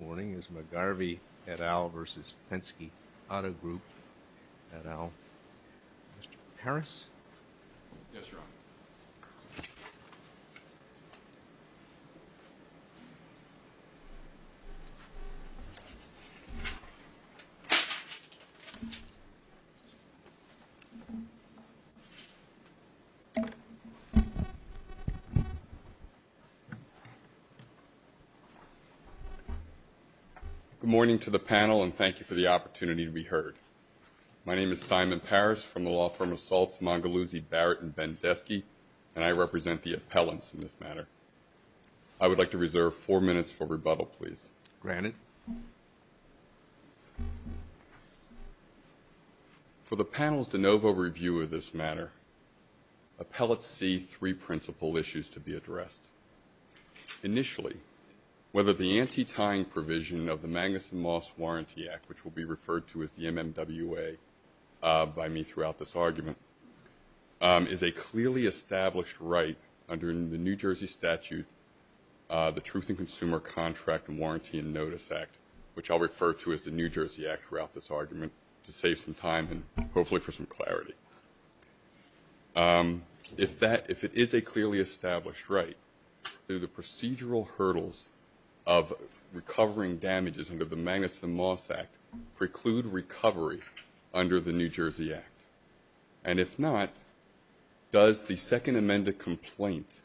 Morning is McGarvey etalv versus Penske Auto Group etalv. Mr. Parris? Good morning to the panel and thank you for the opportunity to be heard. My name is Simon Parris from the law firm Assaults Mangaluzzi Barrett & Bendesky, and I represent the appellants in this matter. I would like to reserve four minutes for rebuttal, please. Granted. For the panel's de novo review of this matter, appellants see three principal issues to be addressed. First, initially, whether the anti-tying provision of the Magnuson Moss Warranty Act, which will be referred to as the MMWA by me throughout this argument, is a clearly established right under the New Jersey statute, the Truth in Consumer Contract and Warranty and Notice Act, which I'll refer to as the New Jersey Act throughout this argument to save some time and hopefully for some clarity. If it is a clearly established right, do the procedural hurdles of recovering damages under the Magnuson Moss Act preclude recovery under the New Jersey Act? And if not, does the second amended complaint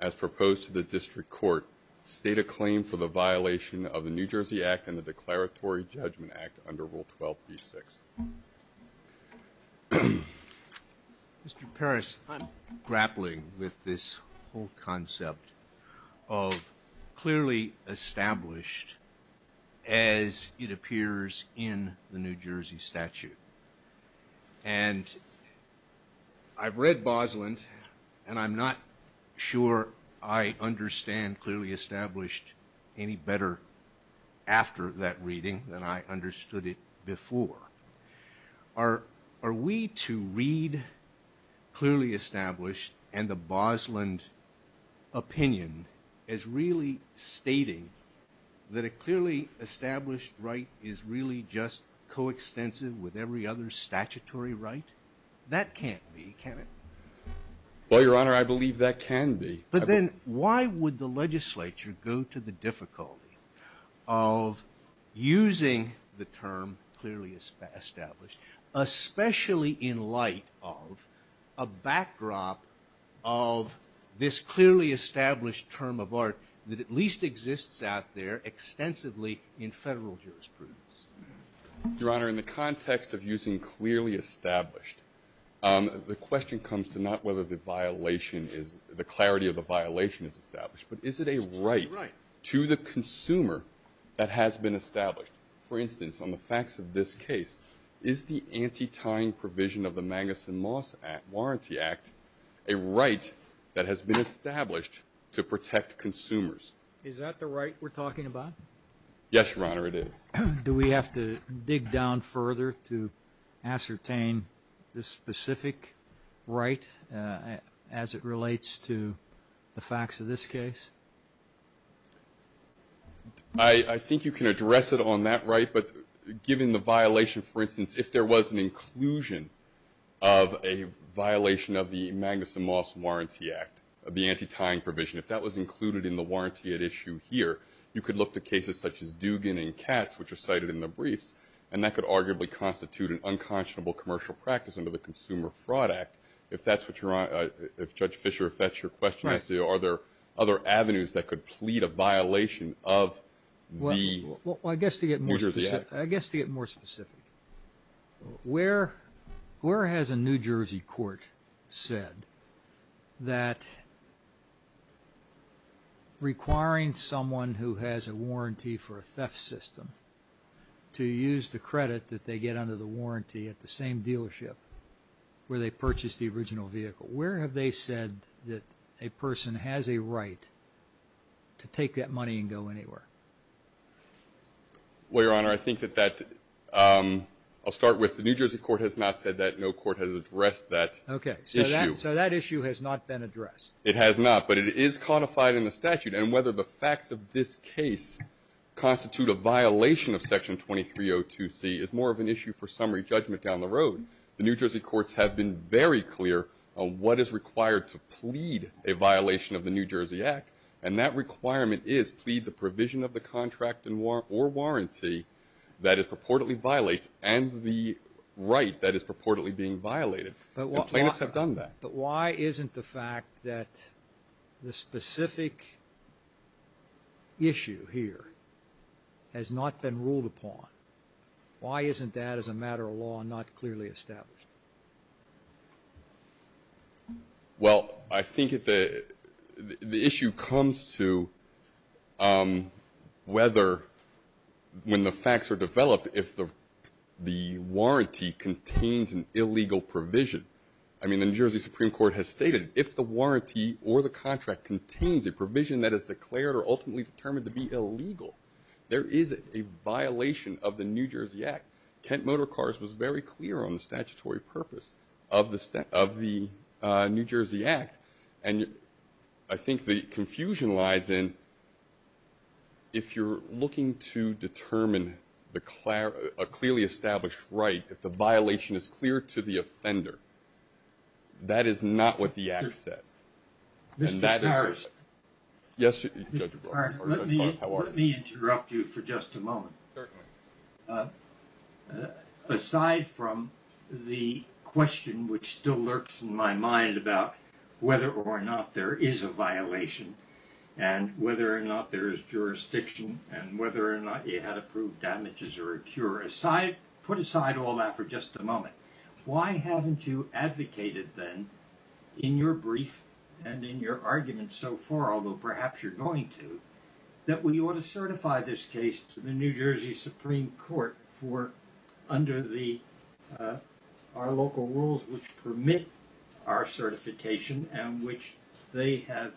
as proposed to the district court state a claim for the violation of the New Jersey Act and the Declaratory Judgment Act under Rule 12B6? Mr. Parris, I'm grappling with this whole concept of clearly established as it appears in the New Jersey statute. And I've read Bosland and I'm not sure I understand clearly established any better after that reading than I understood it before. Are we to read clearly established and the Bosland opinion as really stating that a clearly established right is really just coextensive with every other statutory right? That can't be, can it? Well, Your Honor, I believe that can be. But then why would the legislature go to the difficulty of using the term clearly established, especially in light of a backdrop of this clearly established term of art that at least exists out there extensively in federal jurisprudence? Your Honor, in the context of using clearly established, the question comes to not whether the violation is the clarity of the law or whether it's a violation of the statute. But is it a right to the consumer that has been established? For instance, on the facts of this case, is the anti-tying provision of the Magus and Moss Warranty Act a right that has been established to protect consumers? Is that the right we're talking about? Yes, Your Honor, it is. Do we have to dig down further to ascertain this specific right as it relates to the facts of this case? I think you can address it on that right. But given the violation, for instance, if there was an inclusion of a violation of the Magus and Moss Warranty Act, the anti-tying provision, if that was included in the warranty at issue here, you could look to cases such as Dugan and Katz, which are cited in the briefs, and that could arguably constitute an unconscionable commercial practice under the Consumer Fraud Act. If that's what you're on, if Judge Fischer, if that's your question, as to are there other avenues that could plead a violation of the New Jersey Act? Well, I guess to get more specific, where has a New Jersey court said that requiring someone who is a New Jersey citizen who has a warranty for a theft system to use the credit that they get under the warranty at the same dealership where they purchased the original vehicle? Where have they said that a person has a right to take that money and go anywhere? Well, Your Honor, I think that that, I'll start with the New Jersey court has not said that. No court has addressed that issue. So that issue has not been addressed. It has not, but it is codified in the statute. And whether the facts of this case constitute a violation of Section 2302C is more of an issue for summary judgment down the road. The New Jersey courts have been very clear on what is required to plead a violation of the New Jersey Act, and that requirement is plead the provision of the contract or warranty that it purportedly violates and the right that is purportedly being violated. And plaintiffs have done that. But why isn't the fact that the specific issue here has not been ruled upon, why isn't that as a matter of law not clearly established? Well, I think the issue comes to whether when the facts are developed, if the warranty contains an illegal provision. I mean, the New Jersey Supreme Court has stated if the warranty or the contract contains a provision that is declared or ultimately determined to be illegal, there is a violation of the New Jersey Act. Kent Motorcars was very clear on the statutory purpose of the New Jersey Act. And I think the confusion lies in if you're looking to determine a clearly established right, if the violation is clear to the offender, that is not what the Act says. Mr. Parrish. Yes, Judge Clark. Let me interrupt you for just a moment. Certainly. Aside from the question which still lurks in my mind about whether or not there is a violation and whether or not there is jurisdiction and whether or not you had approved damages or a cure, put aside all that for just a moment. Why haven't you advocated then in your brief and in your argument so far, although perhaps you're going to, that we ought to certify this case to the New Jersey Supreme Court for under our local rules which permit our certification and which they have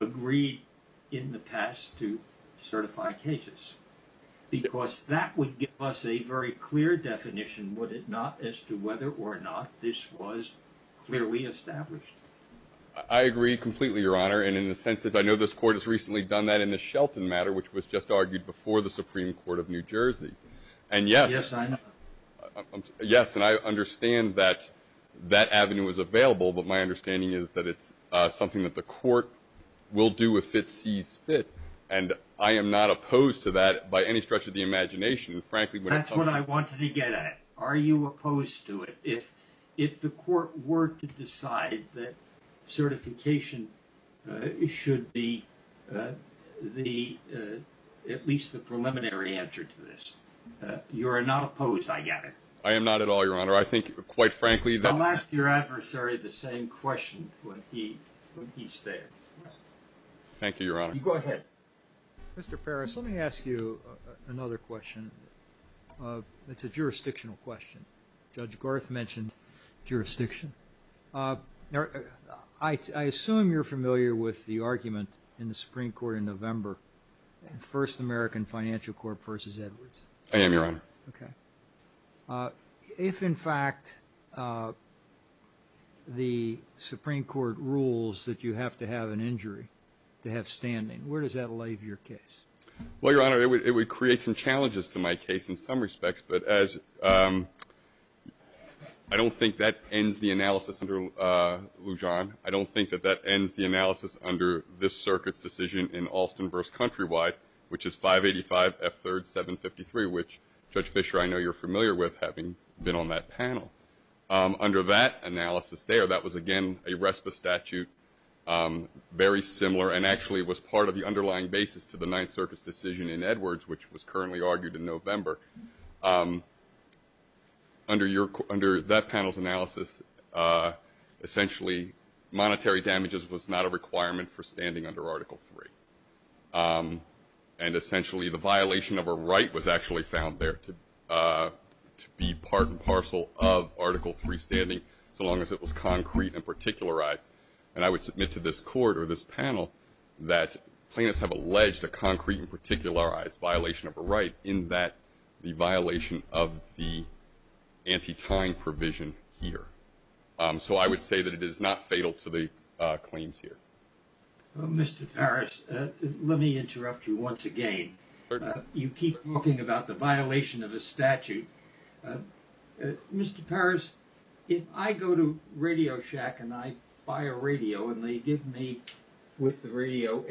agreed in the past to certify cases? Because that would give us a very clear definition, would it not, as to whether or not this was clearly established. I agree completely, Your Honor. And in the sense that I know this Court has recently done that in the Shelton matter, which was just argued before the Supreme Court of New Jersey. Yes, I know. Yes, and I understand that that avenue is available, but my understanding is that it's something that the Court will do if it sees fit, and I am not opposed to that by any stretch of the imagination. That's what I wanted to get at. Are you opposed to it? If the Court were to decide that certification should be at least the preliminary answer to this. You are not opposed, I get it. I am not at all, Your Honor. I think, quite frankly, that. I'll ask your adversary the same question when he stands. Thank you, Your Honor. Go ahead. Mr. Parris, let me ask you another question. It's a jurisdictional question. Judge Gorth mentioned jurisdiction. I assume you're familiar with the argument in the Supreme Court in November, First American Financial Corp versus Edwards. I am, Your Honor. Okay. If, in fact, the Supreme Court rules that you have to have an injury to have standing, where does that lay to your case? Well, Your Honor, it would create some challenges to my case in some respects, but I don't think that ends the analysis under Lujan. I don't think that that ends the analysis under this circuit's decision in Alston versus Countrywide, which is 585 F3rd 753, which, Judge Fischer, I know you're familiar with, having been on that panel. Under that analysis there, that was, again, a RESPA statute, very similar and actually was part of the underlying basis to the Ninth Under that panel's analysis, essentially monetary damages was not a requirement for standing under Article 3. And essentially the violation of a right was actually found there to be part and parcel of Article 3 standing, so long as it was concrete and particularized. And I would submit to this court or this panel that plaintiffs have alleged a violation of the anti-tying provision here. So I would say that it is not fatal to the claims here. Mr. Parris, let me interrupt you once again. You keep talking about the violation of the statute. Mr. Parris, if I go to Radio Shack and I buy a radio and they give me with the radio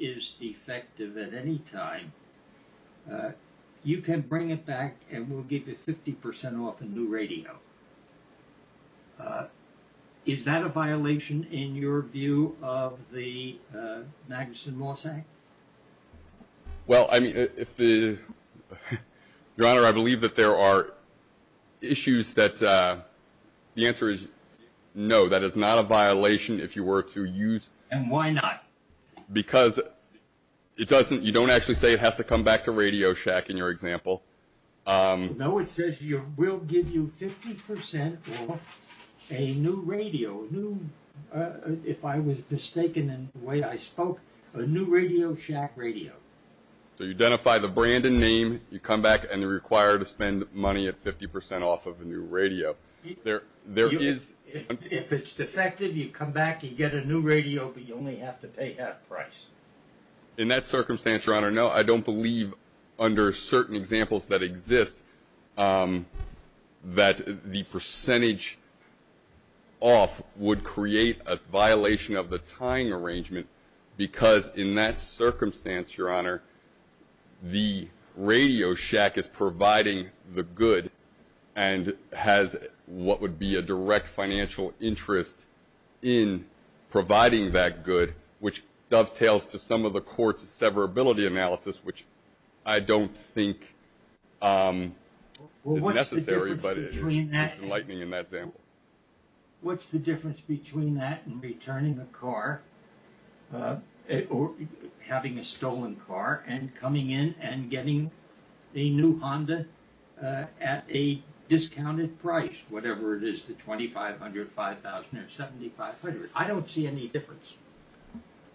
is defective at any time, you can bring it back and we'll give you 50% off a new radio. Is that a violation in your view of the Magnuson-Moss Act? Well, Your Honor, I believe that there are issues that the answer is no, that is not a violation if you were to use. And why not? Because you don't actually say it has to come back to Radio Shack in your example. No, it says we'll give you 50% off a new radio, if I was mistaken in the way I spoke, a new Radio Shack radio. So you identify the brand and name, you come back and you're required to spend money at 50% off of a new radio. If it's defective, you come back, you get a new radio, but you only have to pay half price. In that circumstance, Your Honor, no, I don't believe under certain examples that exist that the percentage off would create a violation of the tying arrangement, because in that circumstance, Your Honor, the Radio Shack is providing the good and has what would be a direct financial interest in providing that good, which dovetails to some of the court's severability analysis, which I don't think is necessary, but enlightening in that example. What's the difference between that and returning a car or having a stolen car and coming in and getting a new Honda at a discounted price, whatever it is, the $2,500, $5,000, or $7,500? I don't see any difference.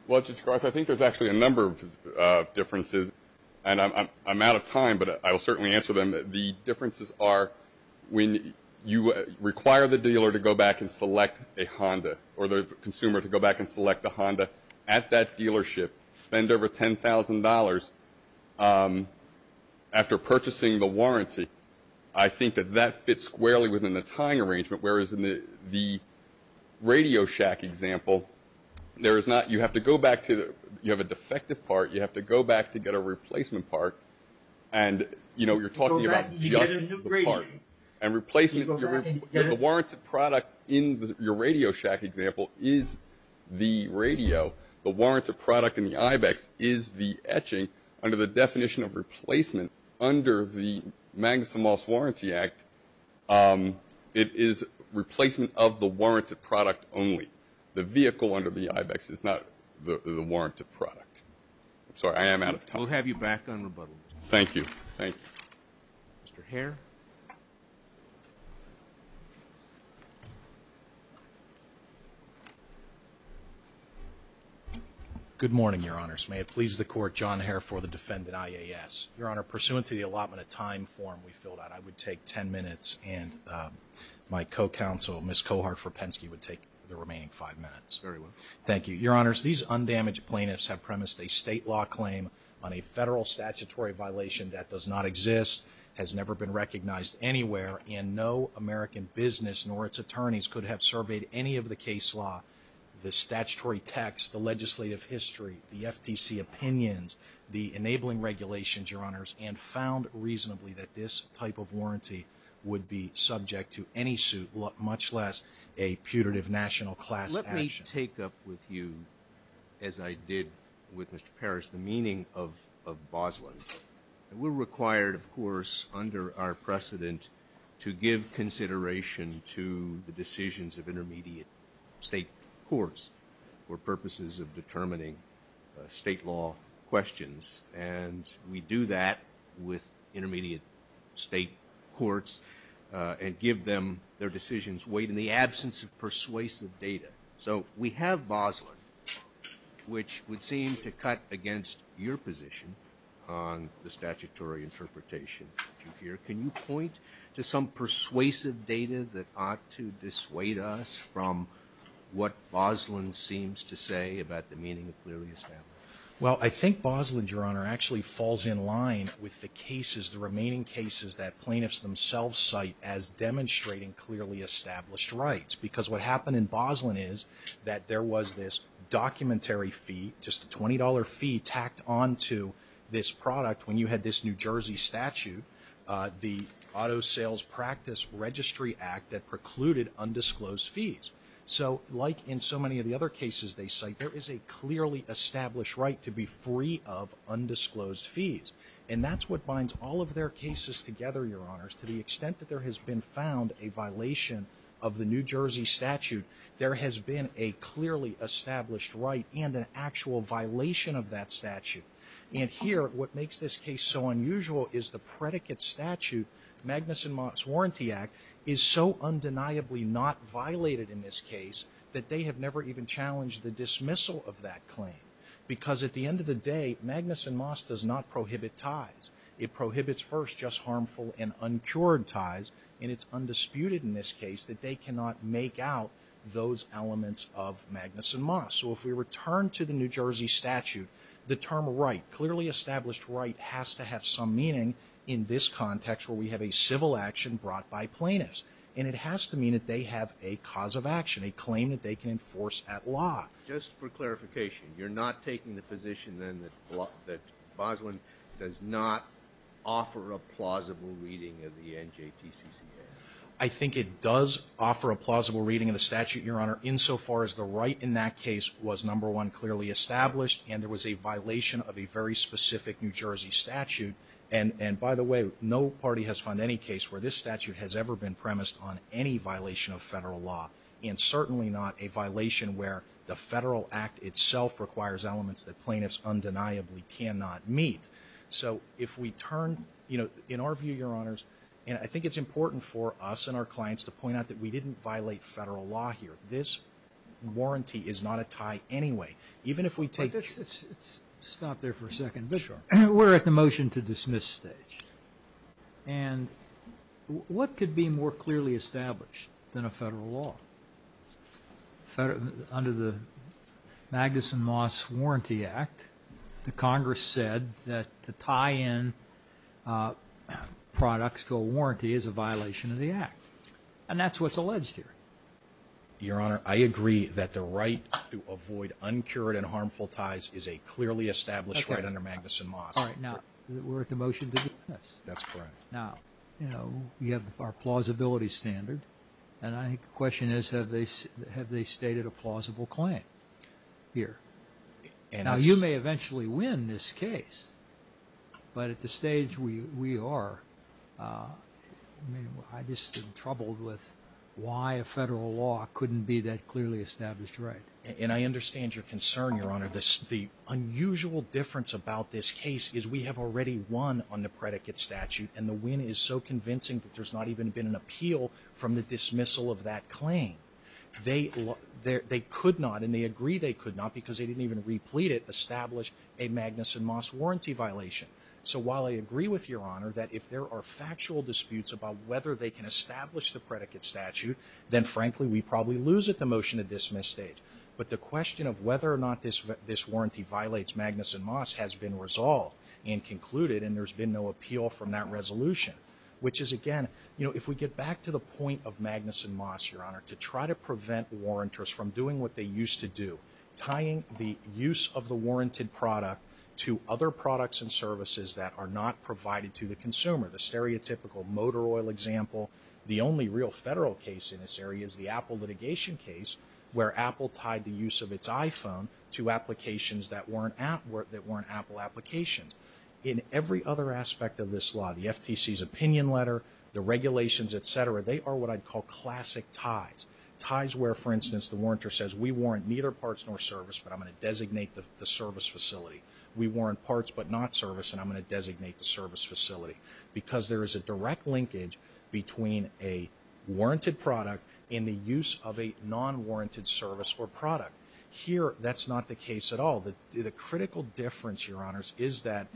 Well, Judge Garth, I think there's actually a number of differences, and I'm out of time, but I will certainly answer them. The differences are when you require the dealer to go back and select a Honda or the consumer to go back and select a Honda at that dealership, spend over $10,000 after purchasing the warranty. I think that that fits squarely within the tying arrangement, whereas in the Radio Shack example, you have a defective part. You have to go back to get a replacement part. And, you know, you're talking about just the part. And replacement, the warranted product in your Radio Shack example is the radio. The warranted product in the IBEX is the etching under the definition of replacement. Under the Magnuson Moss Warranty Act, it is replacement of the warranted product only. The vehicle under the IBEX is not the warranted product. I'm sorry. I am out of time. We'll have you back on rebuttal. Thank you. Thank you. Mr. Hare. Good morning, Your Honors. May it please the Court, John Hare for the defendant IAS. Your Honor, pursuant to the allotment of time form we filled out, I would take 10 minutes, and my co-counsel, Ms. Cohart-Forpensky, would take the remaining five minutes. Very well. Thank you. Your Honors, these undamaged plaintiffs have premised a state law claim on a federal statutory violation that does not exist, has never been recognized anywhere, and no American business nor its attorneys could have surveyed any of the case law, the statutory text, the legislative history, the FTC opinions, the enabling regulations, Your Honors, and found reasonably that this type of warranty would be subject to any suit, much less a putative national class action. I want to take up with you, as I did with Mr. Parrish, the meaning of Bosland. We're required, of course, under our precedent, to give consideration to the decisions of intermediate state courts for purposes of determining state law questions, and we do that with intermediate state courts and give them their decisions weighed in the absence of persuasive data. So we have Bosland, which would seem to cut against your position on the statutory interpretation here. Can you point to some persuasive data that ought to dissuade us from what Bosland seems to say about the meaning of clearly established rights? Well, I think Bosland, Your Honor, actually falls in line with the cases, the remaining cases that plaintiffs themselves cite as demonstrating clearly established rights, because what happened in Bosland is that there was this documentary fee, just a $20 fee tacked onto this product when you had this New Jersey statute, the Auto Sales Practice Registry Act that precluded undisclosed fees. So like in so many of the other cases they cite, there is a clearly established right to be free of undisclosed fees, and that's what binds all of their cases together, Your Honors, to the extent that there has been found a violation of the New Jersey statute, there has been a clearly established right and an actual violation of that statute. And here, what makes this case so unusual is the predicate statute, Magnuson-Moss Warranty Act, is so undeniably not violated in this case that they have never even challenged the dismissal of that claim, because at the end of the day, Magnuson-Moss does not prohibit ties. It prohibits first just harmful and uncured ties, and it's undisputed in this case that they cannot make out those elements of Magnuson-Moss. So if we return to the New Jersey statute, the term right, clearly established right, has to have some meaning in this context where we have a civil action brought by plaintiffs. And it has to mean that they have a cause of action, a claim that they can enforce at law. Just for clarification, you're not taking the position, then, that Boslin does not offer a plausible reading of the NJTCCA? I think it does offer a plausible reading of the statute, Your Honor, insofar as the right in that case was, number one, clearly established, and there was a violation of a very specific New Jersey statute. And by the way, no party has found any case where this statute has ever been premised on any violation of federal law, and certainly not a violation where the federal act itself requires elements that plaintiffs undeniably cannot meet. So if we turn, you know, in our view, Your Honors, and I think it's important for us and our clients to point out that we didn't violate federal law here. This warranty is not a tie anyway. Even if we take it. Let's stop there for a second. Sure. We're at the motion to dismiss stage. And what could be more clearly established than a federal law? Under the Magnuson-Moss Warranty Act, the Congress said that to tie in products to a warranty is a violation of the act, and that's what's alleged here. Your Honor, I agree that the right to avoid uncured and harmful ties is a clearly established right under Magnuson-Moss. All right. Now, we're at the motion to dismiss. That's correct. Now, you know, you have our plausibility standard, and I think the question is have they stated a plausible claim here? Now, you may eventually win this case, but at this stage we are. I mean, I'm just in trouble with why a federal law couldn't be that clearly established right. And I understand your concern, Your Honor. The unusual difference about this case is we have already won on the predicate statute, and the win is so convincing that there's not even been an appeal from the dismissal of that claim. They could not, and they agree they could not because they didn't even replete it, establish a Magnuson-Moss warranty violation. So while I agree with Your Honor that if there are factual disputes about whether they can establish the predicate statute, then frankly we probably lose at the motion to dismiss stage. But the question of whether or not this warranty violates Magnuson-Moss has been resolved and concluded, and there's been no appeal from that resolution, which is, again, you know, if we get back to the point of Magnuson-Moss, Your Honor, to try to prevent the warrantors from doing what they used to do, tying the use of the warranted product to other products and services that are not provided to the consumer, the stereotypical motor oil example. The only real federal case in this area is the Apple litigation case where Apple tied the use of its iPhone to applications that weren't Apple applications. In every other aspect of this law, the FTC's opinion letter, the regulations, et cetera, they are what I'd call classic ties. Ties where, for instance, the warrantor says, we warrant neither parts nor service, but I'm going to designate the service facility. We warrant parts but not service, and I'm going to designate the service facility because there is a direct linkage between a warranted product and the use of a non-warranted service or product. Here, that's not the case at all. The critical difference, Your Honors, is that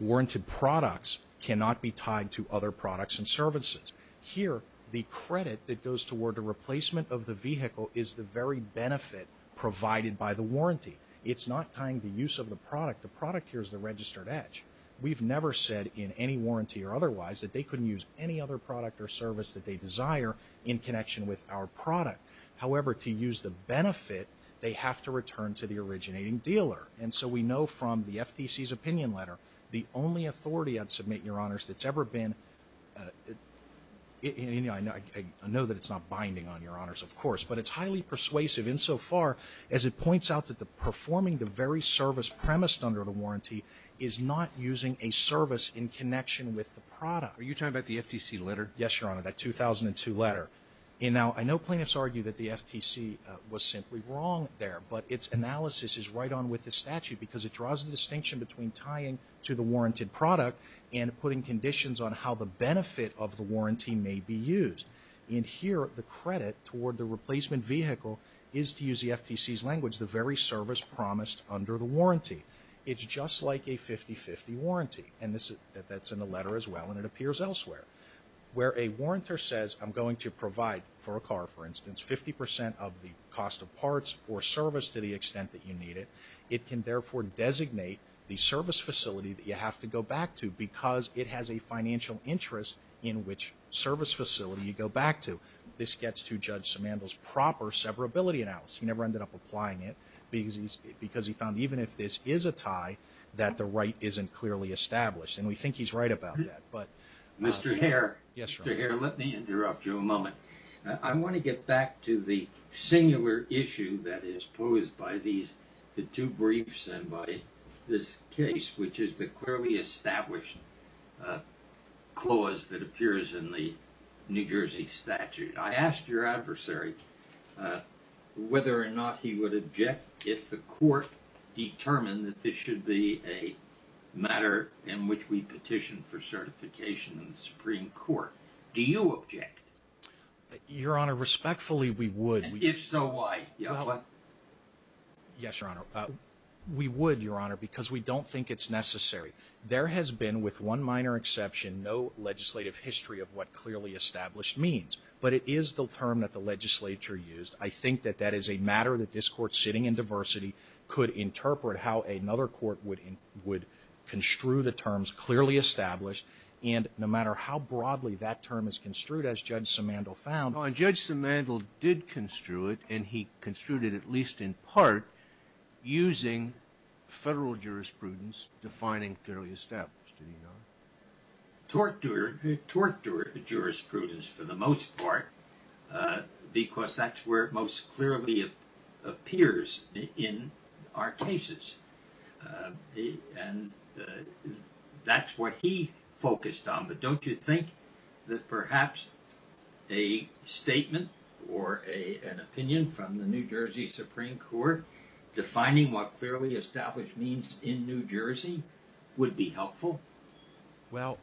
warranted products cannot be tied to other products and services. Here, the credit that goes toward the replacement of the vehicle is the very benefit provided by the warranty. It's not tying the use of the product. The product here is the registered edge. We've never said in any warranty or otherwise that they couldn't use any other product or service that they desire in connection with our product. However, to use the benefit, they have to return to the originating dealer. And so we know from the FTC's opinion letter, the only authority, I'd submit, Your Honors, that's ever been, I know that it's not binding on Your Honors, of course, but it's highly persuasive insofar as it points out that performing the very service premised under the warranty is not using a service in connection with the product. Are you talking about the FTC letter? Yes, Your Honor, that 2002 letter. And now, I know plaintiffs argue that the FTC was simply wrong there, but its analysis is right on with the statute because it draws the distinction between tying to the warranted product and putting conditions on how the benefit of the warranty may be used. And here, the credit toward the replacement vehicle the very service promised under the warranty. It's just like a 50-50 warranty, and that's in the letter as well, and it appears elsewhere. Where a warrantor says, I'm going to provide for a car, for instance, 50% of the cost of parts or service to the extent that you need it, it can therefore designate the service facility that you have to go back to because it has a financial interest in which service facility you go back to. This gets to Judge Simandl's proper severability analysis. He never ended up applying it because he found even if this is a tie, that the right isn't clearly established. And we think he's right about that. Mr. Hare, let me interrupt you a moment. I want to get back to the singular issue that is posed by the two briefs and by this case, which is the clearly established clause that appears in the New Jersey statute. I asked your adversary whether or not he would object if the court determined that this should be a matter in which we petition for certification in the Supreme Court. Do you object? Your Honor, respectfully, we would. And if so, why? Yes, Your Honor. We would, Your Honor, because we don't think it's necessary. There has been, with one minor exception, no legislative history of what clearly established means, but it is the term that the legislature used. I think that that is a matter that this court sitting in diversity could interpret how another court would construe the terms clearly established, and no matter how broadly that term is construed, as Judge Simandl found. Judge Simandl did construe it, and he construed it at least in part using federal jurisprudence defining clearly established. Did he not? Tort jurisprudence for the most part because that's where it most clearly appears in our cases. That's what he focused on, but don't you think that perhaps a statement or an opinion from the New Jersey Supreme Court defining what clearly established means in New Jersey would be helpful? Well,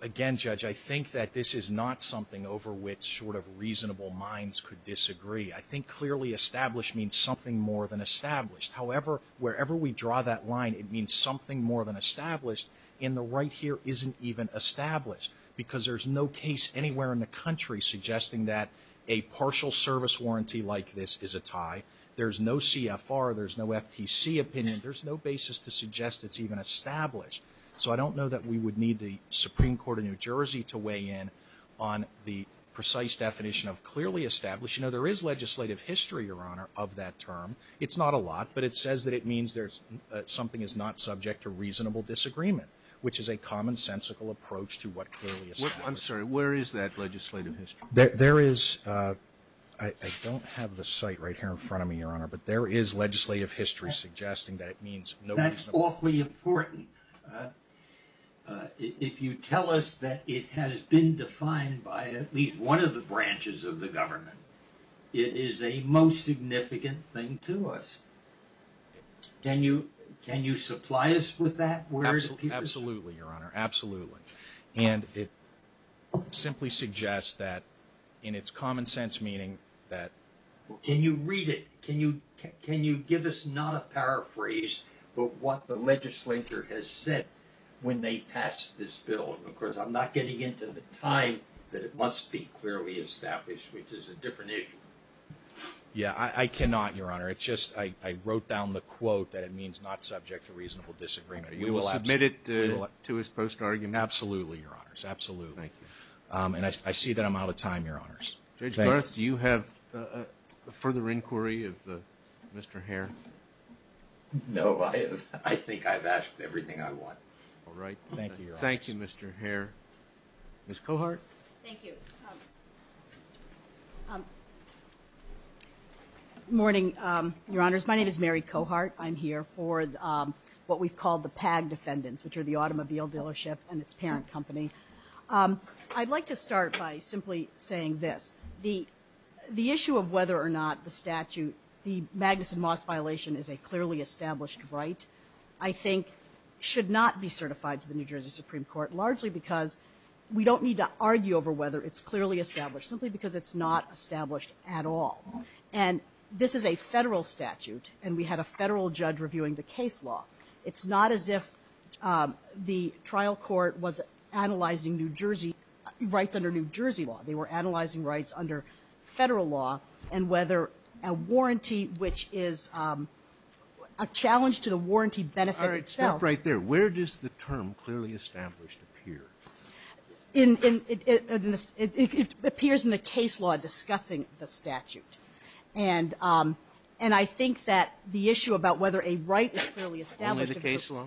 again, Judge, I think that this is not something over which sort of reasonable minds could disagree. I think clearly established means something more than established. However, wherever we draw that line, it means something more than established. And the right here isn't even established because there's no case anywhere in the country suggesting that a partial service warranty like this is a tie. There's no CFR. There's no FTC opinion. There's no basis to suggest it's even established. So I don't know that we would need the Supreme Court of New Jersey to weigh in on the precise definition of clearly established. You know, there is legislative history, Your Honor, of that term. It's not a lot, but it says that it means something is not subject to reasonable disagreement, which is a commonsensical approach to what clearly established means. I'm sorry, where is that legislative history? There is... I don't have the site right here in front of me, Your Honor, but there is legislative history suggesting that it means... That's awfully important. If you tell us that it has been defined by at least one of the branches of the government, it is a most significant thing to us. Can you supply us with that? Absolutely, Your Honor, absolutely. And it simply suggests that in its common sense meaning that... Can you read it? Can you give us not a paraphrase, but what the legislature has said when they passed this bill? Of course, I'm not getting into the time that it must be clearly established, which is a different issue. Yeah, I cannot, Your Honor. It's just I wrote down the quote that it means not subject to reasonable disagreement. We will submit it to his post argument. Absolutely, Your Honors, absolutely. And I see that I'm out of time, Your Honors. Judge Barth, do you have a further inquiry of Mr. Hare? No, I think I've asked everything I want. All right. Thank you, Your Honors. Thank you, Mr. Hare. Ms. Cohart? Thank you. Morning, Your Honors. My name is Mary Cohart. I'm here for what we've called the PAG defendants, which are the automobile dealership and its parent company. I'd like to start by simply saying this. The issue of whether or not the statute, the Magnuson-Moss violation is a clearly established right, I think should not be certified to the New Jersey Supreme Court, largely because we don't need to argue over whether it's clearly established, simply because it's not established at all. And this is a federal statute, and we had a federal judge reviewing the case law. It's not as if the trial court was analyzing rights under New Jersey law. They were analyzing rights under federal law and whether a warranty, which is a challenge to the warranty benefit itself. All right. Stop right there. Where does the term clearly established appear? It appears in the case law discussing the statute. And I think that the issue about whether a right is clearly established. Only the case law?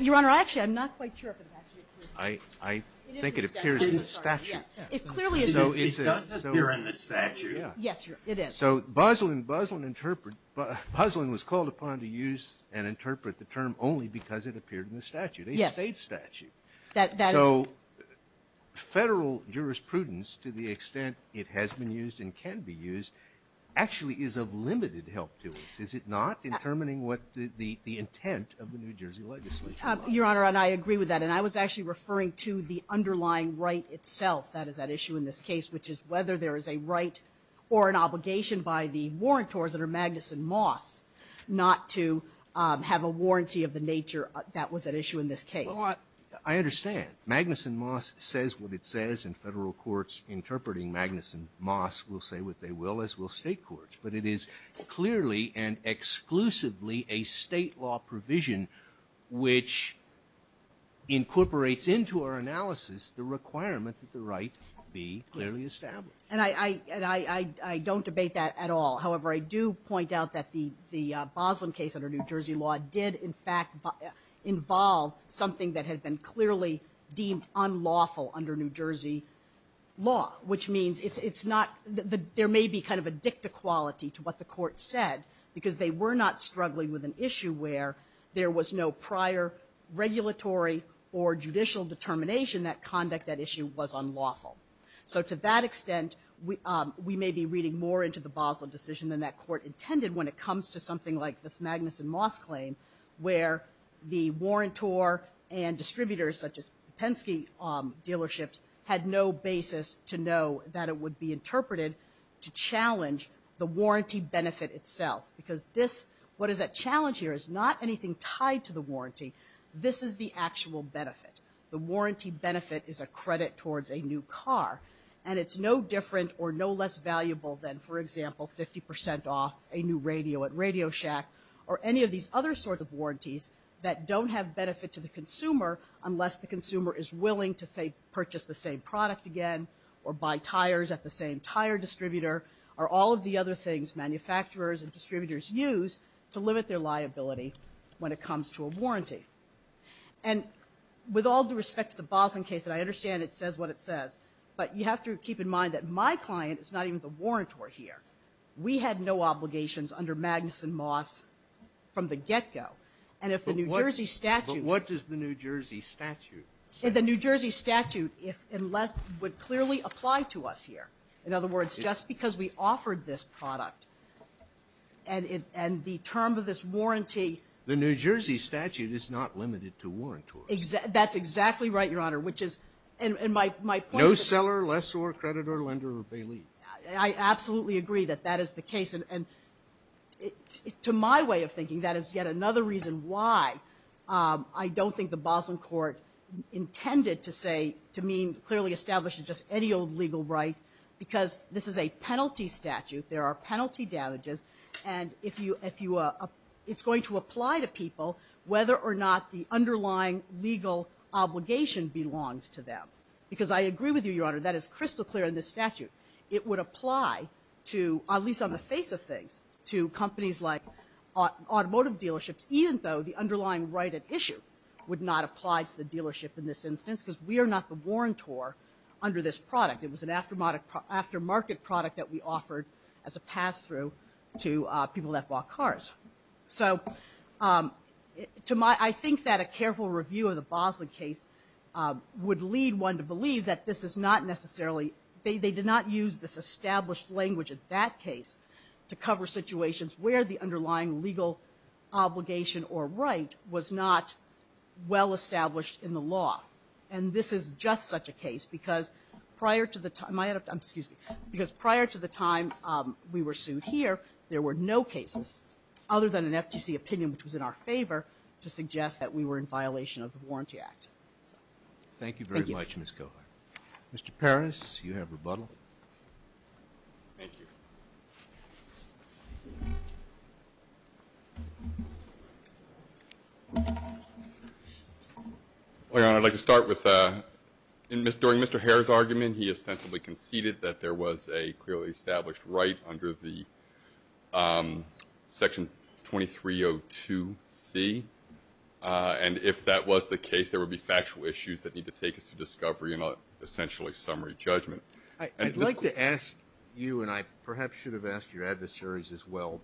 Your Honor, actually, I'm not quite sure if it actually appears in the statute. I think it appears in the statute. It clearly is. It does appear in the statute. Yes, it is. So Boslin was called upon to use and interpret the term only because it appeared in the statute, a State statute. Yes. So federal jurisprudence, to the extent it has been used and can be used, actually is of limited help to us, is it not, in determining what the intent of the New Jersey legislation is? Your Honor, and I agree with that. And I was actually referring to the underlying right itself that is at issue in this case, which is whether there is a right or an obligation by the warrantors under Magnuson-Moss not to have a warranty of the nature that was at issue in this case. Well, I understand. Magnuson-Moss says what it says, and Federal courts interpreting Magnuson-Moss will say what they will, as will State courts. But it is clearly and exclusively a State law provision which incorporates into our analysis the requirement that the right be clearly established. And I don't debate that at all. However, I do point out that the Boslin case under New Jersey law did, in fact, involve something that had been clearly deemed unlawful under New Jersey law, which means it's not, there may be kind of a dicta quality to what the court said, because they were not struggling with an issue where there was no prior regulatory or judicial determination that conduct that issue was unlawful. So to that extent, we may be reading more into the Boslin decision than that court intended when it comes to something like this Magnuson-Moss claim, where the court said that it would be interpreted to challenge the warranty benefit itself. Because this, what is at challenge here is not anything tied to the warranty. This is the actual benefit. The warranty benefit is a credit towards a new car. And it's no different or no less valuable than, for example, 50 percent off a new radio at Radio Shack or any of these other sorts of warranties that don't have benefit to the consumer unless the consumer is willing to, say, purchase the same product again or buy tires at the same tire distributor, or all of the other things manufacturers and distributors use to limit their liability when it comes to a warranty. And with all due respect to the Boslin case, and I understand it says what it says, but you have to keep in mind that my client is not even the warrantor here. We had no obligations under Magnuson-Moss from the get-go. And if the New Jersey statute was to be used as a basis for a new car, it would clearly apply to us here, in other words, just because we offered this product and the term of this warranty. The New Jersey statute is not limited to warrantors. That's exactly right, Your Honor, which is my point. No seller, lessor, creditor, lender, or bailiff. I absolutely agree that that is the case. And to my way of thinking, that is yet another reason why I don't think the Boslin court intended to say, to mean clearly establish just any old legal right, because this is a penalty statute. There are penalty damages. And it's going to apply to people whether or not the underlying legal obligation belongs to them. Because I agree with you, Your Honor, that is crystal clear in this statute. It would apply to, at least on the face of things, to companies like automotive dealerships, even though the underlying right at issue would not apply to the dealership in this instance, because we are not the warrantor under this product. It was an aftermarket product that we offered as a pass-through to people that bought cars. So I think that a careful review of the Boslin case would lead one to believe that this is not necessarily, they did not use this established language in that case to cover situations where the underlying legal obligation or right was not well-established in the law. And this is just such a case, because prior to the time we were sued here, there were no cases other than an FTC opinion which was in our favor to suggest that we were in violation of the Warranty Act. Thank you very much, Ms. Cohar. Mr. Peres, you have rebuttal. Thank you. Your Honor, I'd like to start with, during Mr. Herr's argument, he ostensibly conceded that there was a clearly established right under the Section 2302C. And if that was the case, there would be factual issues that need to take us to discovery and essentially summary judgment. I'd like to ask you, and I perhaps should have asked your adversaries as well,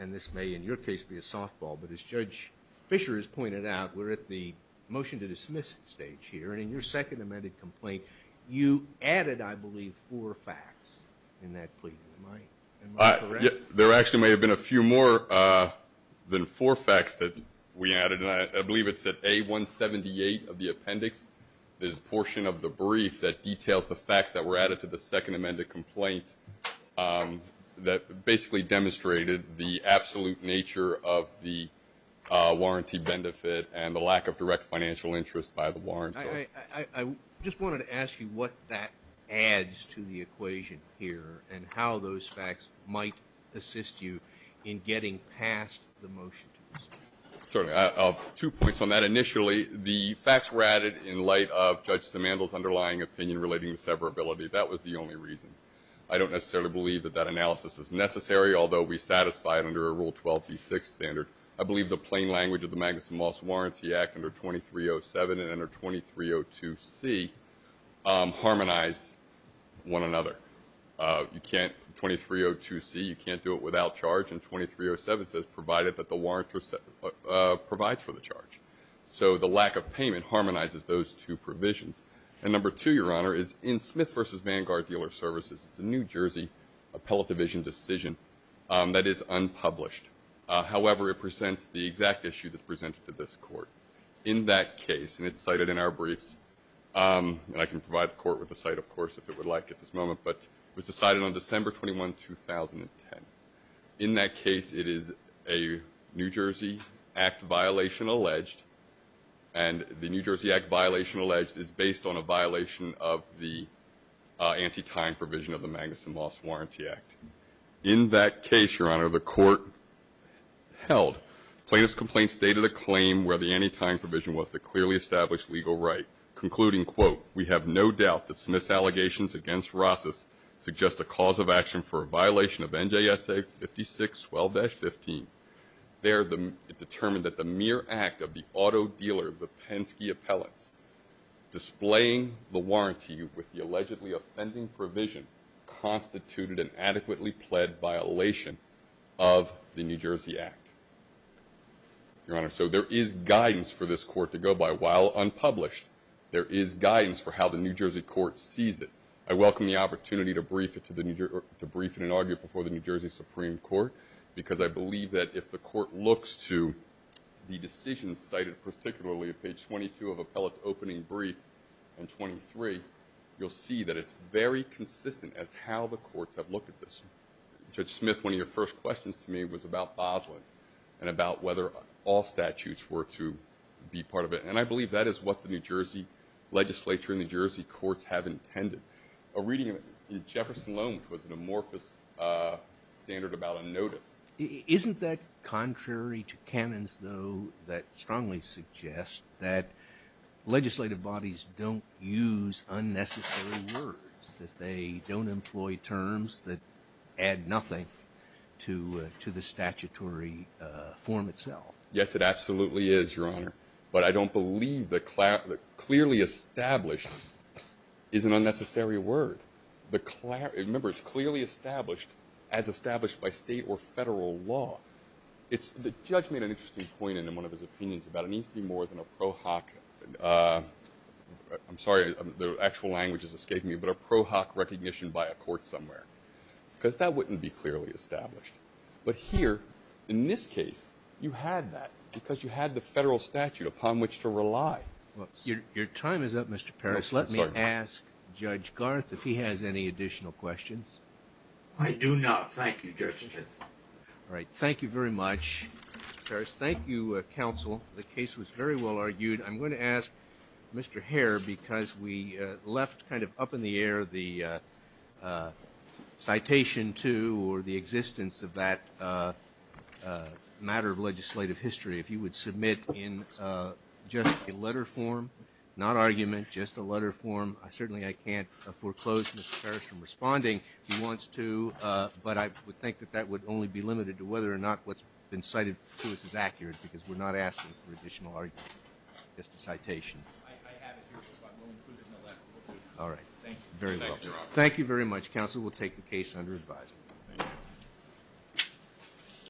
and this may in your case be a softball, but as Judge Fischer has pointed out, we're at the motion to dismiss stage here. And in your second amended complaint, you added, I believe, four facts in that plea. Am I correct? There actually may have been a few more than four facts that we added. I believe it's at A178 of the appendix. There's a portion of the brief that details the facts that were added to the second amended complaint that basically demonstrated the absolute nature of the warranty benefit and the lack of direct financial interest by the warranty. I just wanted to ask you what that adds to the equation here and how those facts might assist you in getting past the motion to dismiss. Two points on that. Initially, the facts were added in light of Judge Simandl's underlying opinion relating to severability. That was the only reason. I don't necessarily believe that that analysis is necessary, although we satisfy it under a Rule 12B6 standard. I believe the plain language of the Magnuson-Moss Warranty Act under 2307 and under 2302C harmonize one another. 2302C, you can't do it without charge, and 2307 says provided that the warrantor provides for the charge. So the lack of payment harmonizes those two provisions. And number two, Your Honor, is in Smith v. Vanguard Dealer Services. It's a New Jersey appellate division decision that is unpublished. However, it presents the exact issue that's presented to this court. In that case, and it's cited in our briefs, and I can provide the court with the site, of course, if it would like at this moment, but it was decided on December 21, 2010. In that case, it is a New Jersey Act violation alleged, and the New Jersey Act violation alleged is based on a violation of the anti-tying provision of the Magnuson-Moss Warranty Act. In that case, Your Honor, the court held plaintiff's complaint stated a claim where the anti-tying provision was the clearly established legal right, concluding, quote, we have no doubt that Smith's allegations against Rosses suggest a cause of action for a violation of NJSA 5612-15. There, it determined that the mere act of the auto dealer, the Penske appellates, displaying the warranty with the allegedly offending provision, constituted an adequately pled violation of the New Jersey Act. Your Honor, so there is guidance for this court to go by. While unpublished, there is guidance for how the New Jersey court sees it. I welcome the opportunity to brief it in an argument before the New Jersey Supreme Court because I believe that if the court looks to the decisions cited, particularly at page 22 of appellate's opening brief and 23, you'll see that it's very consistent as how the courts have looked at this. Judge Smith, one of your first questions to me was about Bosland and about whether all statutes were to be part of it, and I believe that is what the New Jersey legislature and New Jersey courts have intended. A reading in Jefferson Loan was an amorphous standard about a notice. Isn't that contrary to canons, though, that strongly suggest that legislative bodies don't use unnecessary words, that they don't employ terms that add nothing to the statutory form itself? Yes, it absolutely is, Your Honor. But I don't believe that clearly established is an unnecessary word. Remember, it's clearly established as established by state or federal law. The judge made an interesting point in one of his opinions about it needs to be more than a pro hoc. I'm sorry, the actual language has escaped me, but a pro hoc recognition by a court somewhere because that wouldn't be clearly established. But here, in this case, you had that because you had the federal statute upon which to rely. Your time is up, Mr. Parris. Let me ask Judge Garth if he has any additional questions. I do not. Thank you, Judge. All right. Thank you very much, Parris. Thank you, counsel. The case was very well argued. I'm going to ask Mr. Hare because we left kind of up in the air the citation to or the existence of that matter of legislative history. If you would submit in just a letter form, not argument, just a letter form. Certainly I can't foreclose Mr. Parris from responding if he wants to, but I would think that that would only be limited to whether or not what's been cited to us is accurate because we're not asking for additional argument. Just a citation. I have it here. We'll include it in the letter. All right. Thank you. Thank you very much, counsel. We'll take the case under advisory. Thank you.